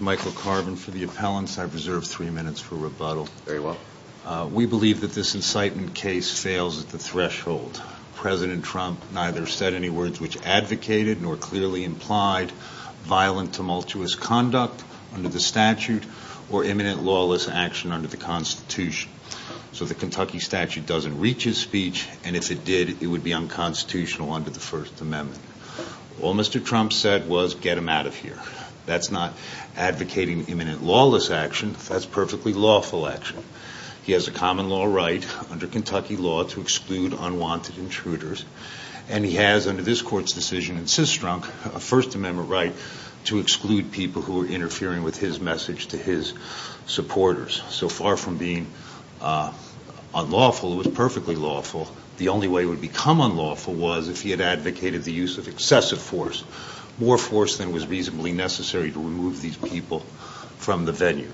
Michael Carvin v. The Appellants We believe that this incitement case fails at the threshold. President Trump neither said any words which advocated nor clearly implied violent, tumultuous conduct under the statute or imminent lawless action under the Constitution. So the Kentucky statute doesn't reach his speech, and if it did, it would be unconstitutional under the First Amendment. All Mr. Trump said was, get him out of here. That's not advocating imminent lawless action, that's perfectly lawful action. He has a common law right, under Kentucky law, to exclude unwanted intruders, and he has, under this court's decision in Systrunk, a First Amendment right to exclude people who are interfering with his message to his supporters. So far from being unlawful, it was perfectly lawful. The only way it would become unlawful was if he had advocated the use of excessive force, more force than was reasonably necessary to remove these people from the venue.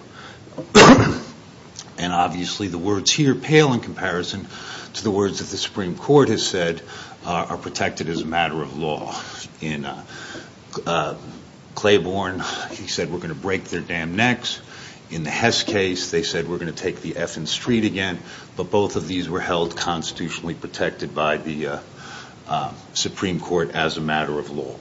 And obviously the words here pale in comparison to the words that the Supreme Court has said are protected as a matter of law. In Claiborne, he said we're going to break their damn necks. In the Hess case, they said we're going to take the F in street again, but both of these were held constitutionally protected by the Supreme Court as a matter of law.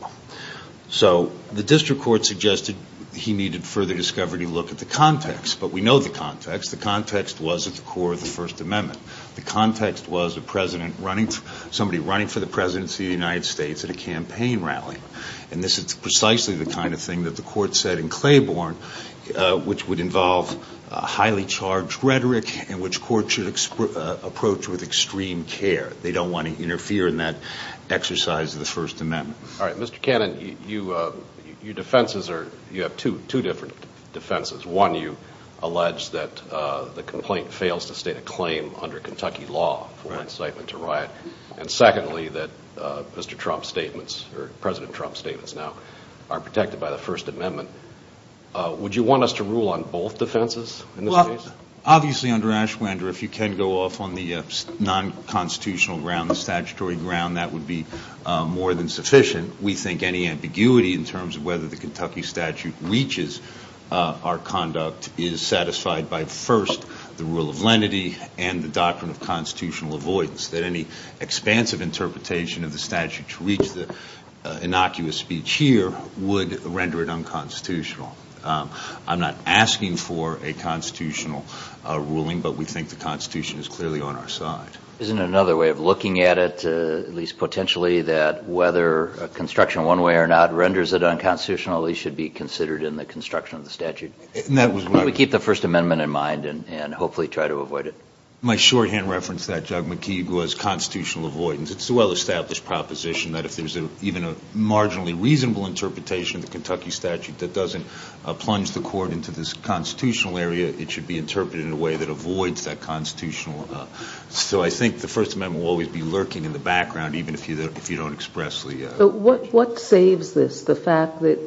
So the district court suggested he needed further discovery to look at the context, but we know the context. The context was at the core of the First Amendment. The context was a president running, somebody running for the presidency of the United States at a campaign rally. And this is precisely the kind of thing that the court said in Claiborne, which would involve highly charged rhetoric, and which court should approach with extreme care. They don't want to interfere in that exercise of the First Amendment. All right, Mr. Cannon, your defenses are, you have two different defenses. One, you allege that the complaint fails to state a claim under Kentucky law for incitement to riot. And secondly, that Mr. Trump's statements, or President Trump's statements now, are protected by the First Amendment. Would you want us to rule on both defenses in this case? Obviously, under Ashwander, if you can go off on the non-constitutional ground, the statutory ground, that would be more than sufficient. We think any ambiguity in terms of whether the Kentucky statute reaches our conduct is satisfied by, first, the rule of lenity and the doctrine of constitutional avoidance, that any expansive interpretation of the statute to reach the innocuous speech here would render it unconstitutional. I'm not asking for a constitutional ruling, but we think the Constitution is clearly on our side. Isn't it another way of looking at it, at least potentially, that whether construction one way or not renders it unconstitutional, it should be considered in the construction of the statute? That was right. We keep the First Amendment in mind and hopefully try to avoid it. My shorthand reference to that, Judge McKeague, was constitutional avoidance. It's a well-established proposition that if there's even a marginally reasonable interpretation of the Kentucky statute that doesn't plunge the court into this constitutional area, it should be interpreted in a way that avoids that constitutional... So I think the First Amendment will always be lurking in the background, even if you don't expressly... But what saves this, the fact that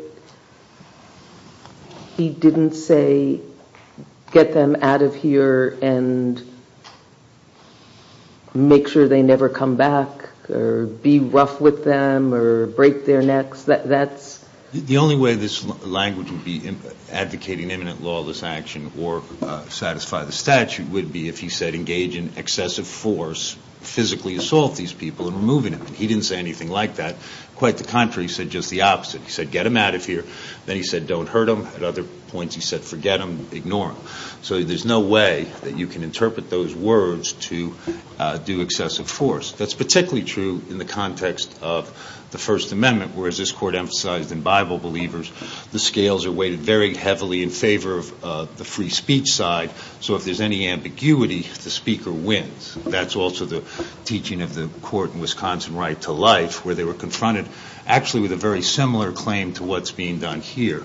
he didn't say, get them out of here and make sure they never come back or be rough with them or break their necks? The only way this language would be advocating imminent lawless action or satisfy the statute would be if he said, engage in excessive force, physically assault these people and removing them. He didn't say anything like that. Quite the contrary, he said just the opposite. He said, get them out of here. Then he said, don't hurt them. At other points, he said, forget them, ignore them. So there's no way that you can interpret those words to do excessive force. That's particularly true in the context of the First Amendment, where, as this court emphasized in Bible Believers, the scales are weighted very heavily in favor of the free speech side. So if there's any ambiguity, the speaker wins. That's also the teaching of the court in Wisconsin right to life, where they were confronted actually with a very similar claim to what's being done here.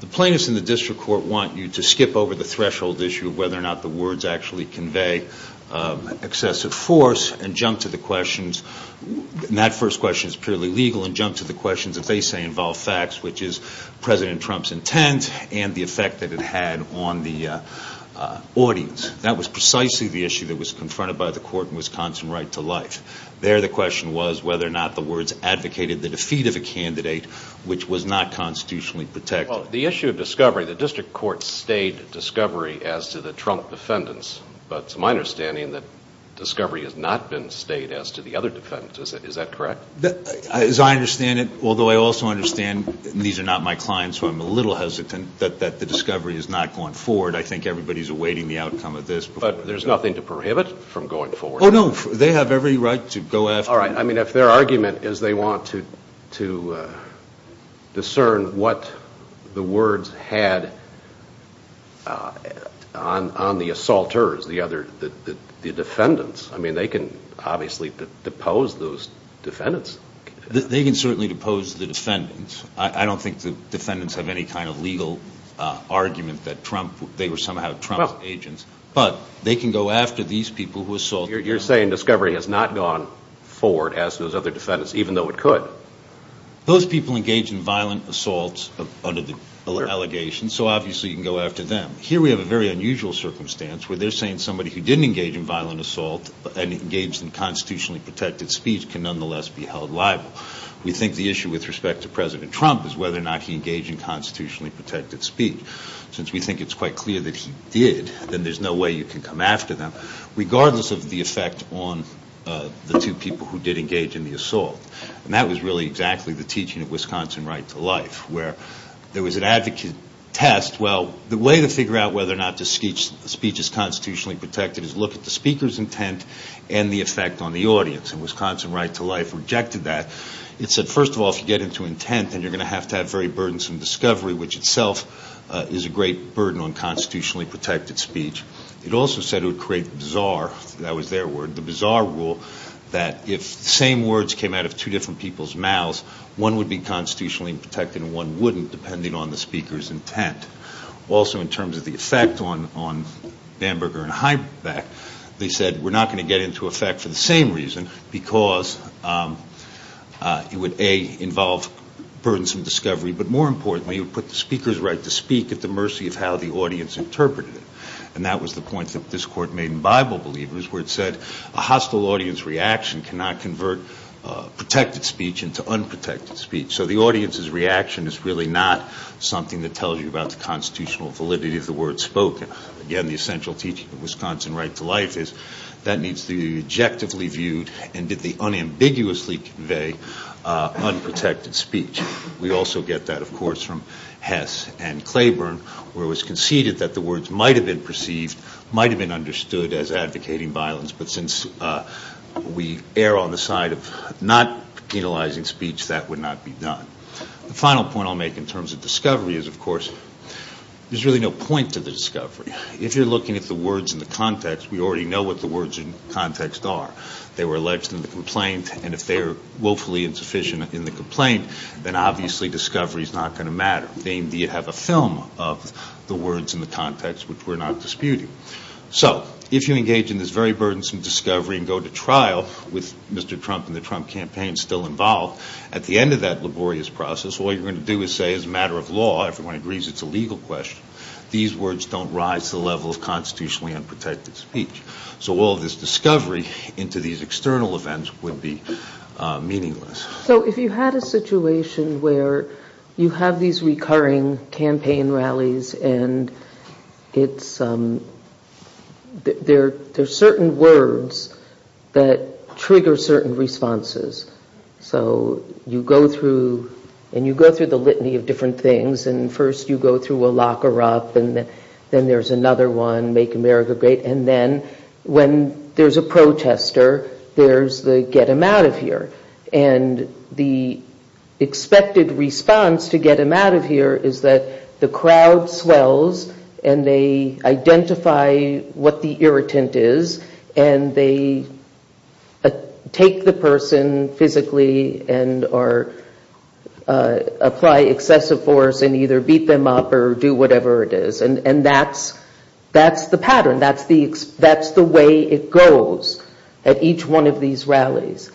The plaintiffs in the district court want you to skip over the threshold issue of whether or not the words actually convey excessive force and jump to the questions. That first question is purely legal and jump to the questions that they say involve facts, which is President Trump's intent and the effect that it had on the audience. That was precisely the issue that was confronted by the court in Wisconsin right to life. There the question was whether or not the words advocated the defeat of a candidate, which was not constitutionally protected. Well, the issue of discovery, the district court stayed discovery as to the Trump defendants. But it's my understanding that discovery has not been stayed as to the other defendants. Is that correct? As I understand it, although I also understand these are not my clients, so I'm a little hesitant, that the discovery is not going forward. I think everybody's awaiting the outcome of this. But there's nothing to prohibit from going forward. Oh, no. They have every right to go after. All right. I mean, if their argument is they want to discern what the words had on the assaulters, the defendants, I mean, they can obviously depose those defendants. They can certainly depose the defendants. I don't think the defendants have any kind of legal argument that Trump, they were somehow Trump's agents. But they can go after these people who assault. You're saying discovery has not gone forward as those other defendants, even though it could. Those people engage in violent assaults under the allegations, so obviously you can go after them. Here we have a very unusual circumstance where they're saying somebody who didn't engage in violent assault and engaged in constitutionally protected speech can nonetheless be held liable. We think the issue with respect to President Trump is whether or not he engaged in constitutionally protected speech. Since we think it's quite clear that he did, then there's no way you can come after them, regardless of the effect on the two people who did engage in the assault. And that was really exactly the teaching of Wisconsin Right to Life, where there was an advocate test. Well, the way to figure out whether or not the speech is constitutionally protected is look at the speaker's intent and the effect on the audience. And Wisconsin Right to Life rejected that. It said, first of all, if you get into intent, then you're going to have to have very burdensome discovery, which itself is a great burden on constitutionally protected speech. It also said it would create bizarre, that was their word, the bizarre rule that if the same words came out of two different people's mouths, one would be constitutionally protected and one wouldn't, depending on the speaker's intent. Also, in terms of the effect on Bamberger and Heimbeck, they said we're not going to get into effect for the same reason, because it would, A, involve burdensome discovery, but more importantly, it would put the speaker's right to speak at the mercy of how the audience interpreted it. And that was the point that this court made in Bible Believers, where it said a hostile audience reaction cannot convert protected speech into unprotected speech. So the audience's reaction is really not something that tells you about the constitutional validity of the word spoken. Again, the essential teaching of Wisconsin Right to Life is that needs to be objectively viewed and did the unambiguously convey unprotected speech. We also get that, of course, from Hess and Claiborne, where it was conceded that the words might have been perceived, might have been understood as advocating violence, but since we err on the side of not penalizing speech, that would not be done. The final point I'll make in terms of discovery is, of course, there's really no point to the discovery. If you're looking at the words in the context, we already know what the words in context are. They were alleged in the complaint, and if they are woefully insufficient in the complaint, then obviously discovery is not going to matter. They indeed have a film of the words in the context, which we're not disputing. So if you engage in this very burdensome discovery and go to trial with Mr. Trump and the Trump campaign still involved, at the end of that laborious process, all you're going to do is say, as a matter of law, everyone agrees it's a legal question, these words don't rise to the level of constitutionally unprotected speech. So all of this discovery into these external events would be meaningless. So if you had a situation where you have these recurring campaign rallies, and there's certain words that trigger certain responses. So you go through, and you go through the litany of different things, and first you go through a locker up, and then there's another one, make America great, and then when there's a protester, there's the get him out of here. And the expected response to get him out of here is that the crowd swells, and they identify what the irritant is, and they take the person physically and or apply excessive force and either beat them up or do whatever it is. And that's the pattern, that's the way it goes at each one of these rallies.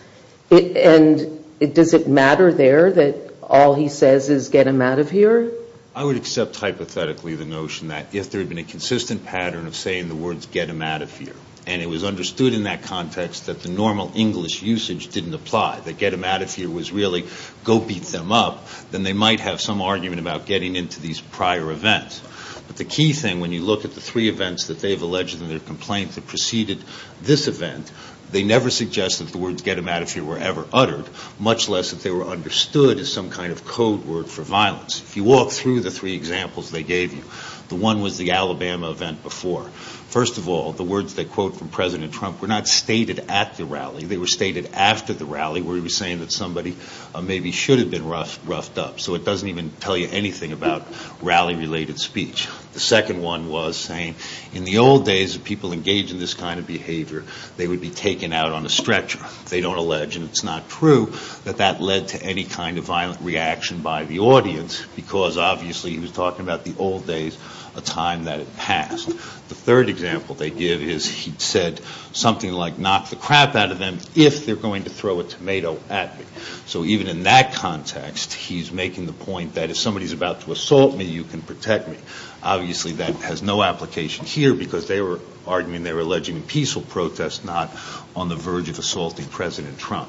And does it matter there that all he says is get him out of here? I would accept hypothetically the notion that if there had been a consistent pattern of saying the words get him out of here, and it was understood in that context that the normal English usage didn't apply. That get him out of here was really go beat them up, then they might have some argument about getting into these prior events. But the key thing when you look at the three events that they've alleged in their complaints that preceded this event, they never suggest that the words get him out of here were ever uttered, much less that they were understood as some kind of code word for violence. If you walk through the three examples they gave you, the one was the Alabama event before. First of all, the words they quote from President Trump were not stated at the rally. They were stated after the rally where he was saying that somebody maybe should have been roughed up. So it doesn't even tell you anything about rally related speech. The second one was saying in the old days people engaged in this kind of behavior, they would be taken out on a stretcher. And it's not true that that led to any kind of violent reaction by the audience, because obviously he was talking about the old days, a time that had passed. The third example they give is he said something like knock the crap out of them if they're going to throw a tomato at me. So even in that context, he's making the point that if somebody's about to assault me, you can protect me. Obviously that has no application here, because they were arguing they were alleging a peaceful protest, not on the verge of assaulting President Trump.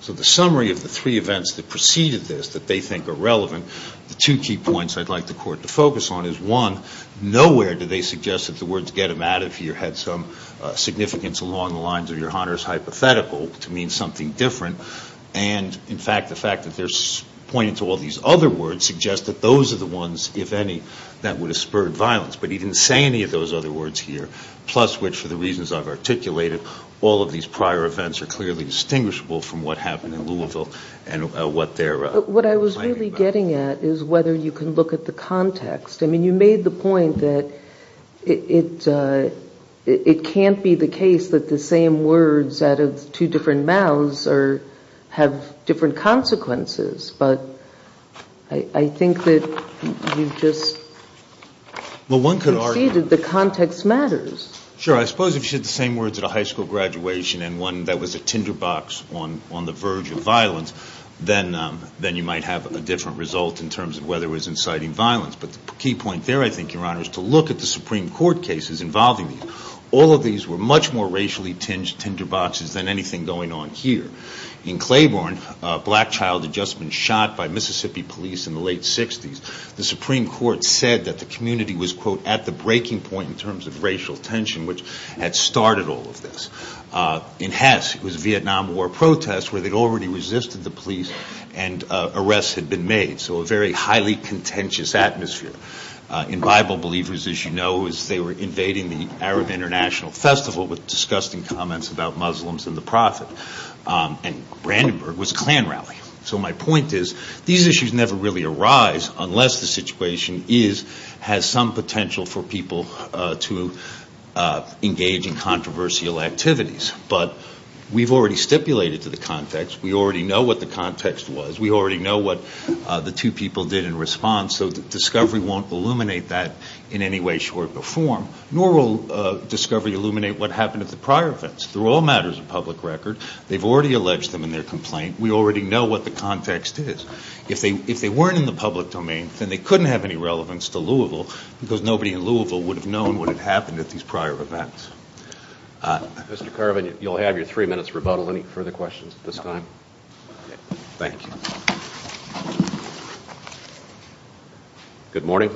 So the summary of the three events that preceded this that they think are relevant, the two key points I'd like the court to focus on is one, nowhere do they suggest that the words get them out of here had some significance along the lines of your Hunter's hypothetical to mean something different. And in fact, the fact that they're pointing to all these other words suggests that those are the ones, if any, that would have spurred violence. But he didn't say any of those other words here, plus which for the reasons I've articulated, all of these prior events are clearly distinguishable from what happened in Louisville and what they're claiming. What I was really getting at is whether you can look at the context. I mean, you made the point that it can't be the case that the same words out of two different mouths have different consequences. But I think that you just succeeded. The context matters. Sure. I suppose if you said the same words at a high school graduation and one that was a tinderbox on the verge of violence, then you might have a different result in terms of whether it was inciting violence. But the key point there, I think, Your Honor, is to look at the Supreme Court cases involving these. All of these were much more racially tinged tinderboxes than anything going on here. In Claiborne, a black child had just been shot by Mississippi police in the late 60s. The Supreme Court said that the community was, quote, at the breaking point in terms of racial tension, which had started all of this. In Hess, it was a Vietnam War protest where they'd already resisted the police and arrests had been made. So a very highly contentious atmosphere. In Bible Believers, as you know, they were invading the Arab International Festival with disgusting comments about Muslims and the Prophet. And Brandenburg was a Klan rally. So my point is, these issues never really arise unless the situation has some potential for people to engage in controversial activities. But we've already stipulated to the context. We already know what the context was. We already know what the two people did in response, so discovery won't illuminate that in any way, short, or form. Nor will discovery illuminate what happened at the prior events. We already know what the context is. If they weren't in the public domain, then they couldn't have any relevance to Louisville because nobody in Louisville would have known what had happened at these prior events. Mr. Carvin, you'll have your three minutes rebuttal. Any further questions at this time? Thank you. Good morning.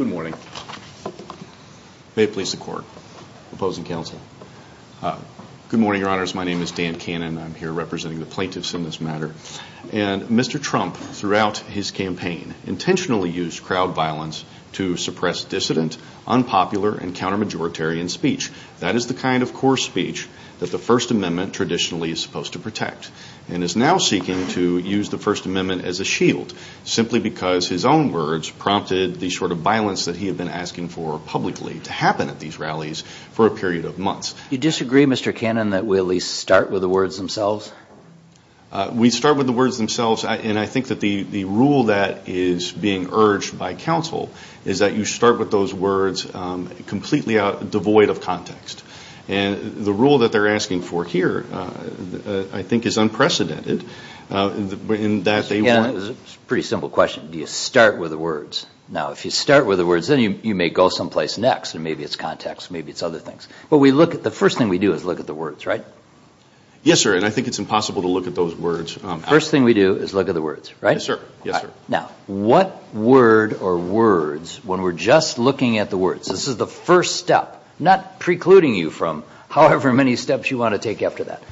May it please the court. Opposing counsel. Good morning, your honors. My name is Dan Cannon. I'm here representing the plaintiffs in this matter. And Mr. Trump, throughout his campaign, intentionally used crowd violence to suppress dissident, unpopular, and counter-majoritarian speech. That is the kind of coarse speech that the First Amendment traditionally is supposed to protect. And is now seeking to use the First Amendment as a shield, simply because his own words prompted the sort of violence that he had been asking for publicly to happen at these rallies for a period of months. Do you disagree, Mr. Cannon, that we at least start with the words themselves? We start with the words themselves, and I think that the rule that is being urged by counsel is that you start with those words completely devoid of context. And the rule that they're asking for here, I think, is unprecedented. It's a pretty simple question. Do you start with the words? Now, if you start with the words, then you may go someplace next, and maybe it's context, maybe it's other things. But the first thing we do is look at the words, right? Yes, sir. And I think it's impossible to look at those words afterwards. First thing we do is look at the words, right? Yes, sir. Yes, sir. Now, what word or words, when we're just looking at the words, this is the first step, not precluding you from however many steps you want to take after that,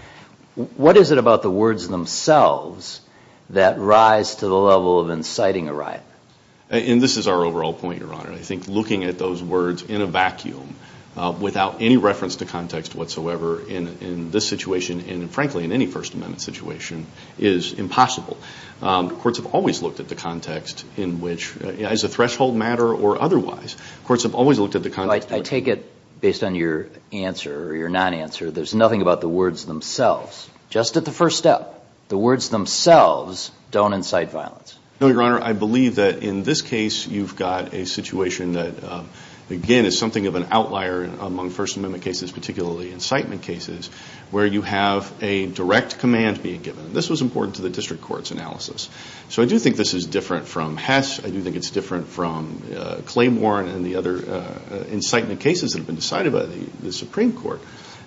what is it about the words themselves that rise to the level of inciting a riot? And this is our overall point, Your Honor. I think looking at those words in a vacuum without any reference to context whatsoever in this situation and, frankly, in any First Amendment situation is impossible. Courts have always looked at the context in which, as a threshold matter or otherwise, courts have always looked at the context. I take it, based on your answer or your non-answer, there's nothing about the words themselves. Just at the first step, the words themselves don't incite violence. No, Your Honor. I believe that in this case you've got a situation that, again, is something of an outlier among First Amendment cases, particularly incitement cases, where you have a direct command being given. This was important to the district court's analysis. So I do think this is different from Hess. I do think it's different from Claymore and the other incitement cases that have been decided by the Supreme Court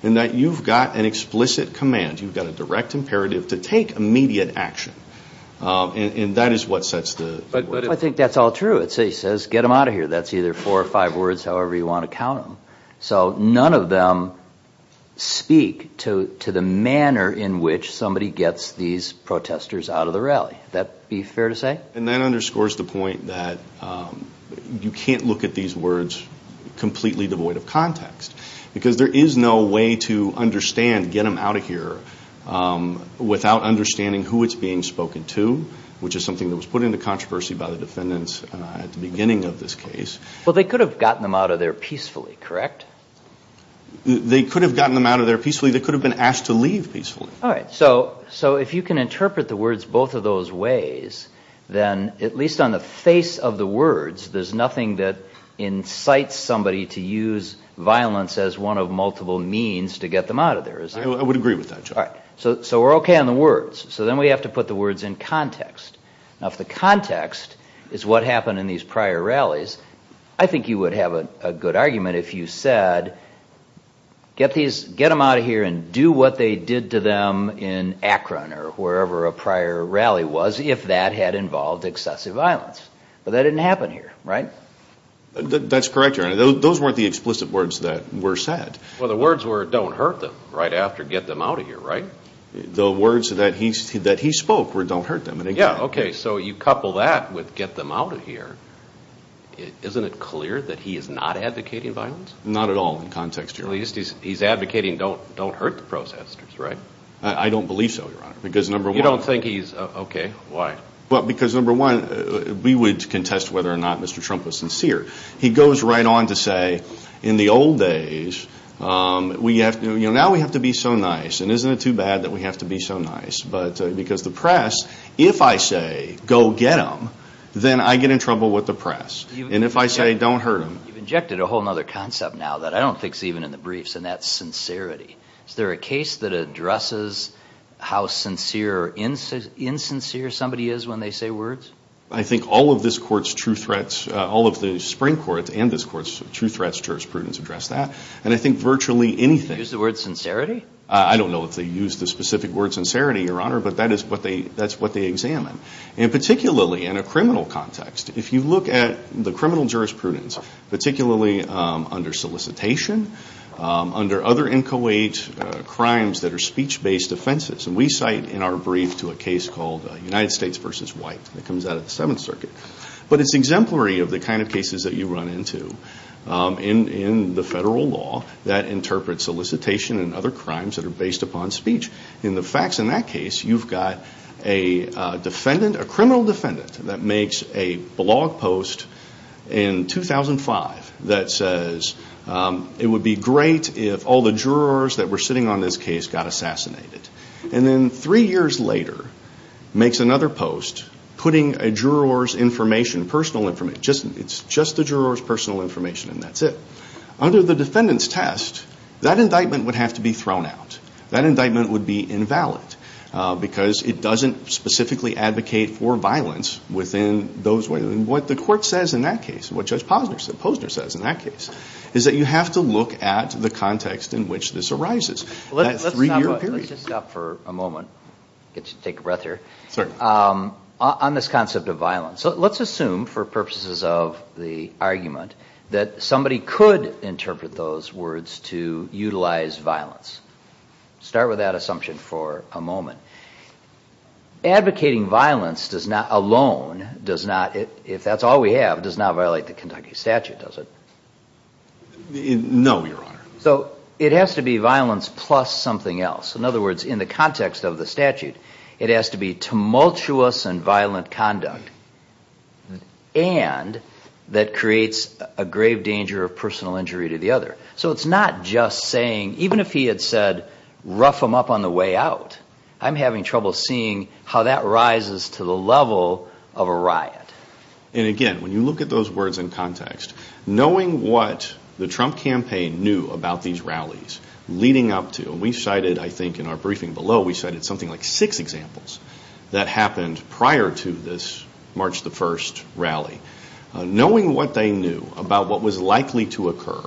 in that you've got an explicit command. You've got a direct imperative to take immediate action. I think that's all true. It says, get them out of here. That's either four or five words, however you want to count them. So none of them speak to the manner in which somebody gets these protesters out of the rally. Would that be fair to say? And that underscores the point that you can't look at these words completely devoid of context. Because there is no way to understand, get them out of here, without understanding who it's being spoken to, which is something that was put into controversy by the defendants at the beginning of this case. Well, they could have gotten them out of there peacefully, correct? They could have gotten them out of there peacefully. They could have been asked to leave peacefully. All right. So if you can interpret the words both of those ways, then at least on the face of the words, there's nothing that incites somebody to use violence as one of multiple means to get them out of there, is there? I would agree with that, Chuck. All right. So we're okay on the words. So then we have to put the words in context. Now, if the context is what happened in these prior rallies, I think you would have a good argument if you said, get them out of here and do what they did to them in Akron or wherever a prior rally was, if that had involved excessive violence. But that didn't happen here, right? That's correct, Your Honor. Those weren't the explicit words that were said. Well, the words were don't hurt them right after get them out of here, right? The words that he spoke were don't hurt them. Yeah. Okay. So you couple that with get them out of here. Isn't it clear that he is not advocating violence? Not at all in context, Your Honor. At least he's advocating don't hurt the protesters, right? I don't believe so, Your Honor. You don't think he's okay? Why? Because, number one, we would contest whether or not Mr. Trump was sincere. He goes right on to say, in the old days, now we have to be so nice. And isn't it too bad that we have to be so nice? Because the press, if I say, go get them, then I get in trouble with the press. And if I say, don't hurt them. You've injected a whole other concept now that I don't think is even in the briefs, and that's sincerity. Is there a case that addresses how sincere or insincere somebody is when they say words? I think all of this Court's true threats, all of the Supreme Court's and this Court's true threats, jurisprudence, address that. And I think virtually anything. Do they use the word sincerity? I don't know if they use the specific word sincerity, Your Honor, but that is what they examine. And particularly in a criminal context, if you look at the criminal jurisprudence, particularly under solicitation, under other inchoate crimes that are speech-based offenses. And we cite in our brief to a case called United States v. White that comes out of the Seventh Circuit. But it's exemplary of the kind of cases that you run into in the federal law that interprets solicitation and other crimes that are based upon speech. In the facts in that case, you've got a defendant, a criminal defendant, that makes a blog post in 2005 that says, it would be great if all the jurors that were sitting on this case got assassinated. And then three years later makes another post putting a juror's information, personal information, it's just the juror's personal information and that's it. Under the defendant's test, that indictment would have to be thrown out. That indictment would be invalid because it doesn't specifically advocate for violence within those ways. And what the Court says in that case, what Judge Posner says in that case, is that you have to look at the context in which this arises. Let's just stop for a moment, get you to take a breath here, on this concept of violence. Let's assume for purposes of the argument that somebody could interpret those words to utilize violence. Start with that assumption for a moment. Advocating violence alone, if that's all we have, does not violate the Kentucky statute, does it? No, Your Honor. So it has to be violence plus something else. In other words, in the context of the statute, it has to be tumultuous and violent conduct, and that creates a grave danger of personal injury to the other. So it's not just saying, even if he had said, rough him up on the way out, I'm having trouble seeing how that rises to the level of a riot. And again, when you look at those words in context, knowing what the Trump campaign knew about these rallies leading up to, and we cited, I think, in our briefing below, we cited something like six examples that happened prior to this March 1st rally. Knowing what they knew about what was likely to occur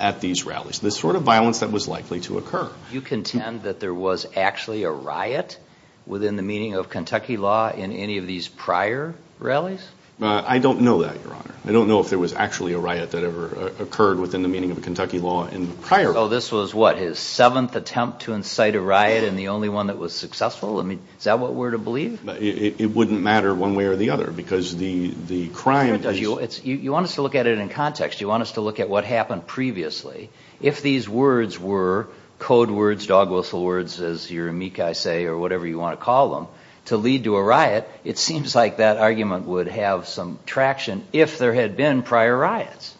at these rallies, the sort of violence that was likely to occur. You contend that there was actually a riot within the meaning of Kentucky law in any of these prior rallies? I don't know that, Your Honor. I don't know if there was actually a riot that ever occurred within the meaning of Kentucky law in prior rallies. So this was, what, his seventh attempt to incite a riot and the only one that was successful? Is that what we're to believe? It wouldn't matter one way or the other, because the crime is... You want us to look at it in context. You want us to look at what happened previously. If these words were code words, dog whistle words, as your amici say, or whatever you want to call them, to lead to a riot, it seems like that argument would have some traction if there had been prior riots.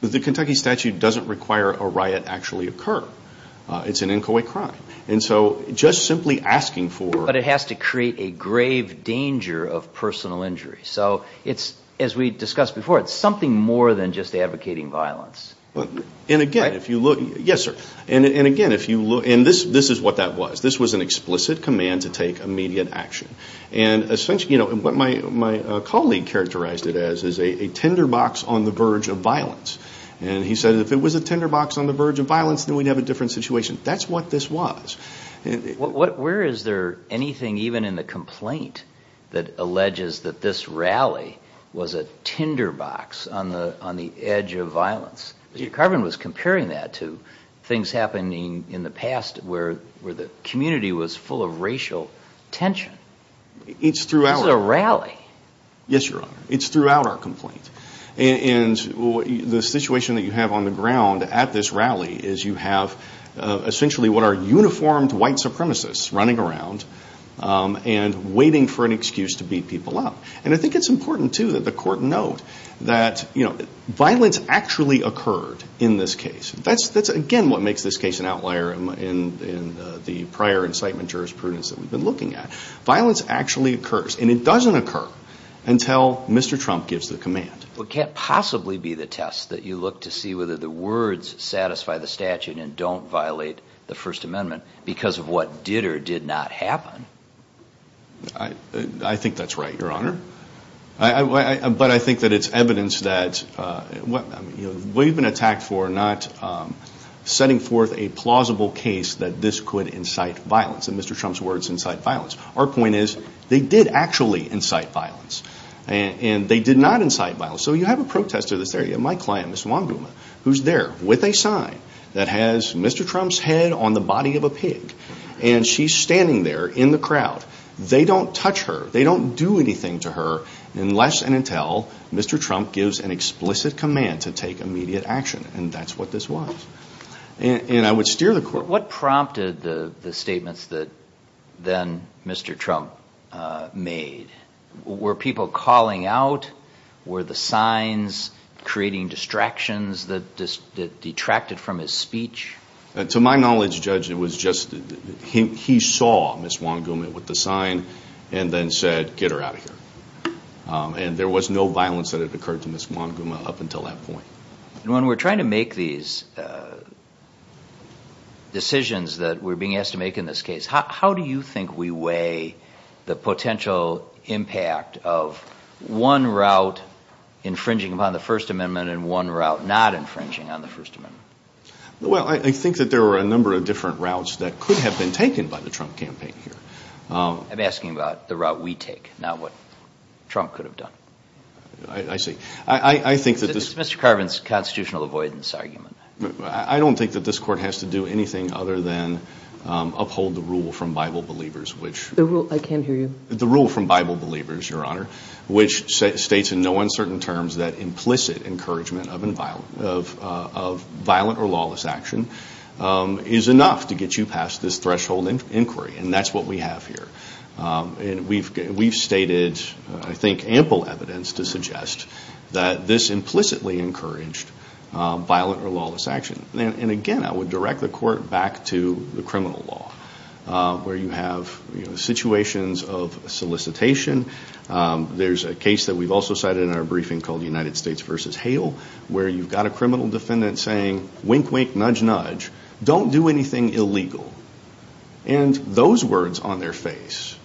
The Kentucky statute doesn't require a riot actually occur. It's an inchoate crime. And so just simply asking for... It's something more than just advocating violence. Yes, sir. And again, this is what that was. This was an explicit command to take immediate action. What my colleague characterized it as is a tinderbox on the verge of violence. And he said if it was a tinderbox on the verge of violence, then we'd have a different situation. That's what this was. Where is there anything even in the complaint that alleges that this rally was a tinderbox on the edge of violence? Mr. Carvin was comparing that to things happening in the past where the community was full of racial tension. It's throughout... This is a rally. And I think it's important too that the court note that violence actually occurred in this case. That's again what makes this case an outlier in the prior incitement jurisprudence that we've been looking at. Violence actually occurs. And it doesn't occur until Mr. Trump gives the command. Well, it can't possibly be the test that you look to see whether the words satisfy the statute and don't violate the First Amendment because of what did or did not happen. I think that's right, Your Honor. But I think that it's evidence that... We've been attacked for not setting forth a plausible case that this could incite violence. And Mr. Trump's words incite violence. Our point is they did actually incite violence. And they did not incite violence. So you have a protester that's there. You have my client, Ms. Wambuma, who's there with a sign that has Mr. Trump's head on the body of a pig. And she's standing there in the crowd. They don't touch her. They don't do anything to her unless and until Mr. Trump gives an explicit command to take immediate action. And that's what this was. And I would steer the court... What did you think Mr. Trump made? Were people calling out? Were the signs creating distractions that detracted from his speech? To my knowledge, Judge, it was just... He saw Ms. Wambuma with the sign and then said, get her out of here. And there was no violence that had occurred to Ms. Wambuma up until that point. When we're trying to make these decisions that we're being asked to make in this case, how do you think we weigh the potential impact of one route infringing upon the First Amendment and one route not infringing on the First Amendment? Well, I think that there were a number of different routes that could have been taken by the Trump campaign here. I'm asking about the route we take, not what Trump could have done. I see. I think that this... It's Mr. Carvin's constitutional avoidance argument. I don't think that this court has to do anything other than uphold the rule from Bible believers, which... I can't hear you. The rule from Bible believers, Your Honor, which states in no uncertain terms that implicit encouragement of violent or lawless action is enough to get you past this threshold inquiry. And that's what we have here. And we've stated, I think, ample evidence to suggest that this implicitly encouraged violent or lawless action. And again, I would direct the court back to the criminal law, where you have situations of solicitation. There's a case that we've also cited in our briefing called United States v. Hale, where you've got a criminal defendant saying, wink, wink, nudge, nudge, don't do anything illegal. And those words on their face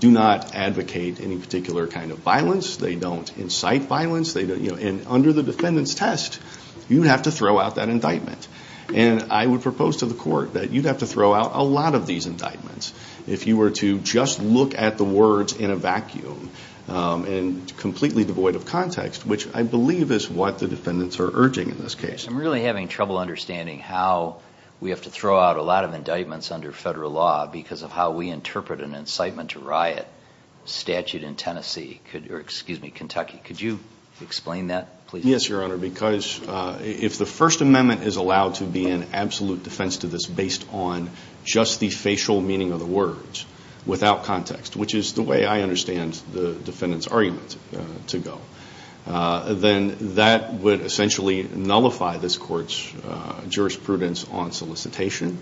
do not advocate any particular kind of violence. They don't incite violence. And under the defendant's test, you have to throw out that indictment. And I would propose to the court that you'd have to throw out a lot of these indictments if you were to just look at the words in a vacuum and completely devoid of context, which I believe is what the defendants are urging in this case. I'm really having trouble understanding how we have to throw out a lot of indictments under federal law because of how we interpret an incitement to riot statute in Tennessee. Excuse me, Kentucky. Could you explain that, please? Yes, Your Honor, because if the First Amendment is allowed to be an absolute defense to this based on just the facial meaning of the words without context, which is the way I understand the defendant's argument to go, then that would essentially nullify this court's jurisprudence on solicitation.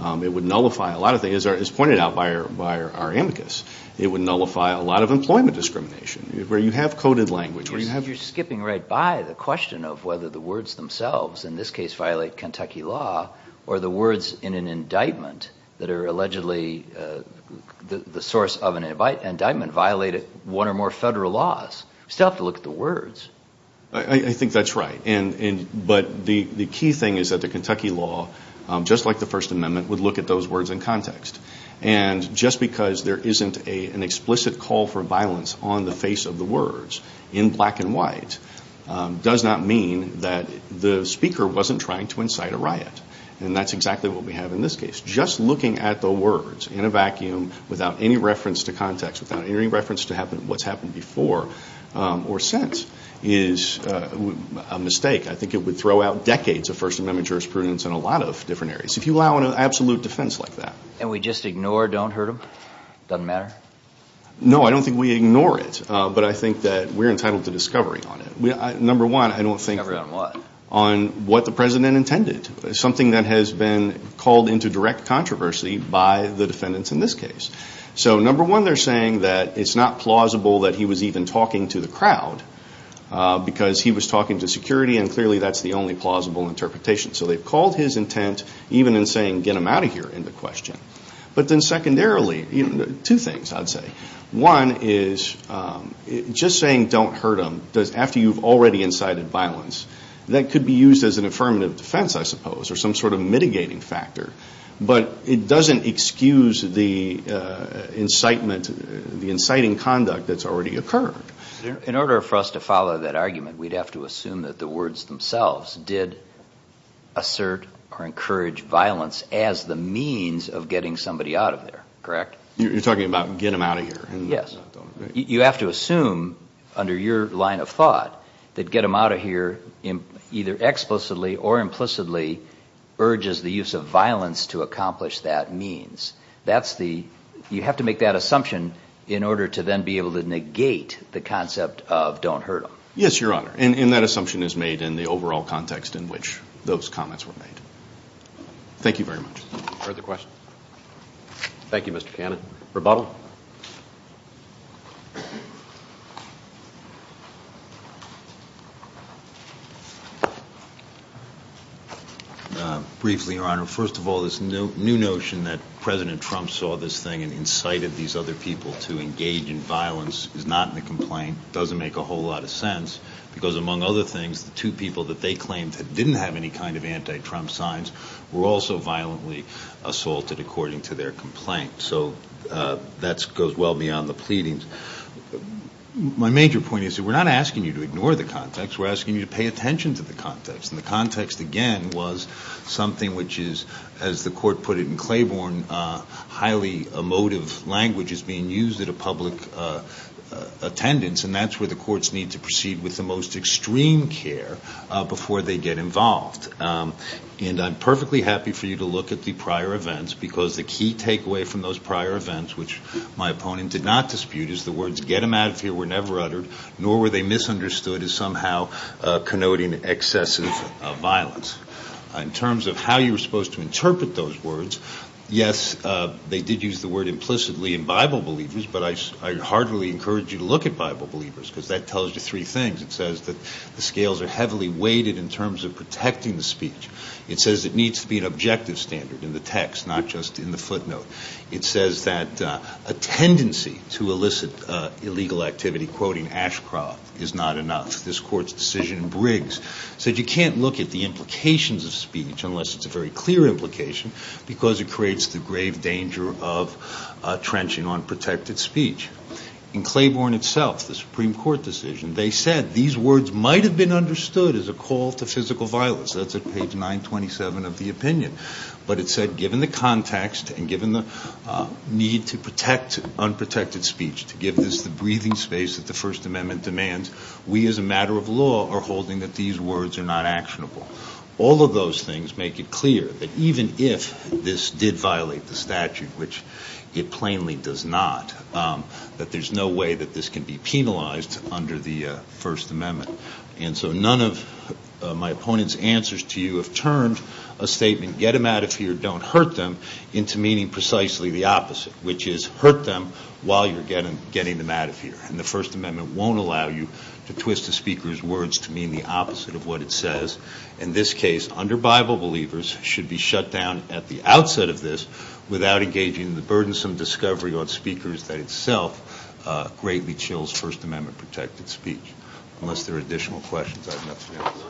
It would nullify a lot of things, as pointed out by our amicus. It would nullify a lot of employment discrimination, where you have coded language. You're skipping right by the question of whether the words themselves in this case violate Kentucky law or the words in an indictment that are allegedly the source of an indictment violate one or more federal laws. You still have to look at the words. I think that's right. But the key thing is that the Kentucky law, just like the First Amendment, would look at those words in context. And just because there isn't an explicit call for violence on the face of the words in black and white does not mean that the speaker wasn't trying to incite a riot. And that's exactly what we have in this case. Just looking at the words in a vacuum without any reference to context, without any reference to what's happened before or since is a mistake. I think it would throw out decades of First Amendment jurisprudence in a lot of different areas, if you allow an absolute defense like that. And we just ignore, don't hurt them? Doesn't matter? No, I don't think we ignore it. But I think that we're entitled to discovery on it. Number one, I don't think on what the president intended. Something that has been called into direct controversy by the defendants in this case. So number one, they're saying that it's not plausible that he was even talking to the crowd because he was talking to security. And clearly that's the only plausible interpretation. So they've called his intent even in saying get him out of here in the question. But then secondarily, two things I'd say. One is just saying don't hurt him after you've already incited violence. That could be used as an affirmative defense, I suppose, or some sort of mitigating factor. But it doesn't excuse the incitement, the inciting conduct that's already occurred. In order for us to follow that argument, we'd have to assume that the words themselves did assert or encourage violence as the means of getting somebody out of there, correct? You're talking about get him out of here. Yes. You have to assume under your line of thought that get him out of here either explicitly or implicitly urges the use of violence to accomplish that means. You have to make that assumption in order to then be able to negate the concept of don't hurt him. Yes, Your Honor. And that assumption is made in the overall context in which those comments were made. Thank you very much. Briefly, Your Honor, first of all, this new notion that President Trump saw this thing and incited these other people to engage in violence is not in the complaint. It doesn't make a whole lot of sense because, among other things, the two people that they claimed didn't have any kind of anti-Trump signs were also violently assaulted according to their complaint. So that goes well beyond the pleadings. My major point is that we're not asking you to ignore the context. We're asking you to pay attention to the context. And the context, again, was something which is, as the Court put it in Claiborne, highly emotive language is being used at a public attendance. And that's where the courts need to proceed with the most extreme care before they get involved. And I'm perfectly happy for you to look at the prior events because the key takeaway from those prior events, which my opponent did not dispute, is the words, get him out of here, were never uttered, nor were they misunderstood as somehow connoting excessive violence. In terms of how you were supposed to interpret those words, yes, they did use the word implicitly in Bible believers, but I heartily encourage you to look at Bible believers. Because that tells you three things. It says that the scales are heavily weighted in terms of protecting the speech. It says it needs to be an objective standard in the text, not just in the footnote. It says that a tendency to elicit illegal activity, quoting Ashcroft, is not enough. This Court's decision in Briggs said you can't look at the implications of speech unless it's a very clear implication because it creates the grave danger of trenching on protected speech. In Claiborne itself, the Supreme Court decision, they said these words might have been understood as a call to physical violence. That's at page 927 of the opinion. But it said given the context and given the need to protect unprotected speech, to give this the breathing space that the First Amendment demands, we as a matter of law are holding that these words are not actionable. All of those things make it clear that even if this did violate the statute, which it plainly does not, the Supreme Court's decision in Briggs is not enough. That there's no way that this can be penalized under the First Amendment. And so none of my opponent's answers to you have turned a statement, get them out of here, don't hurt them, into meaning precisely the opposite. Which is hurt them while you're getting them out of here. And the First Amendment won't allow you to twist a speaker's words to mean the opposite of what it says. In this case, under Bible believers, should be shut down at the outset of this without engaging in the burdensome discovery on speakers that itself greatly chills First Amendment protected speech. Unless there are additional questions, I have nothing else to say. Thank you.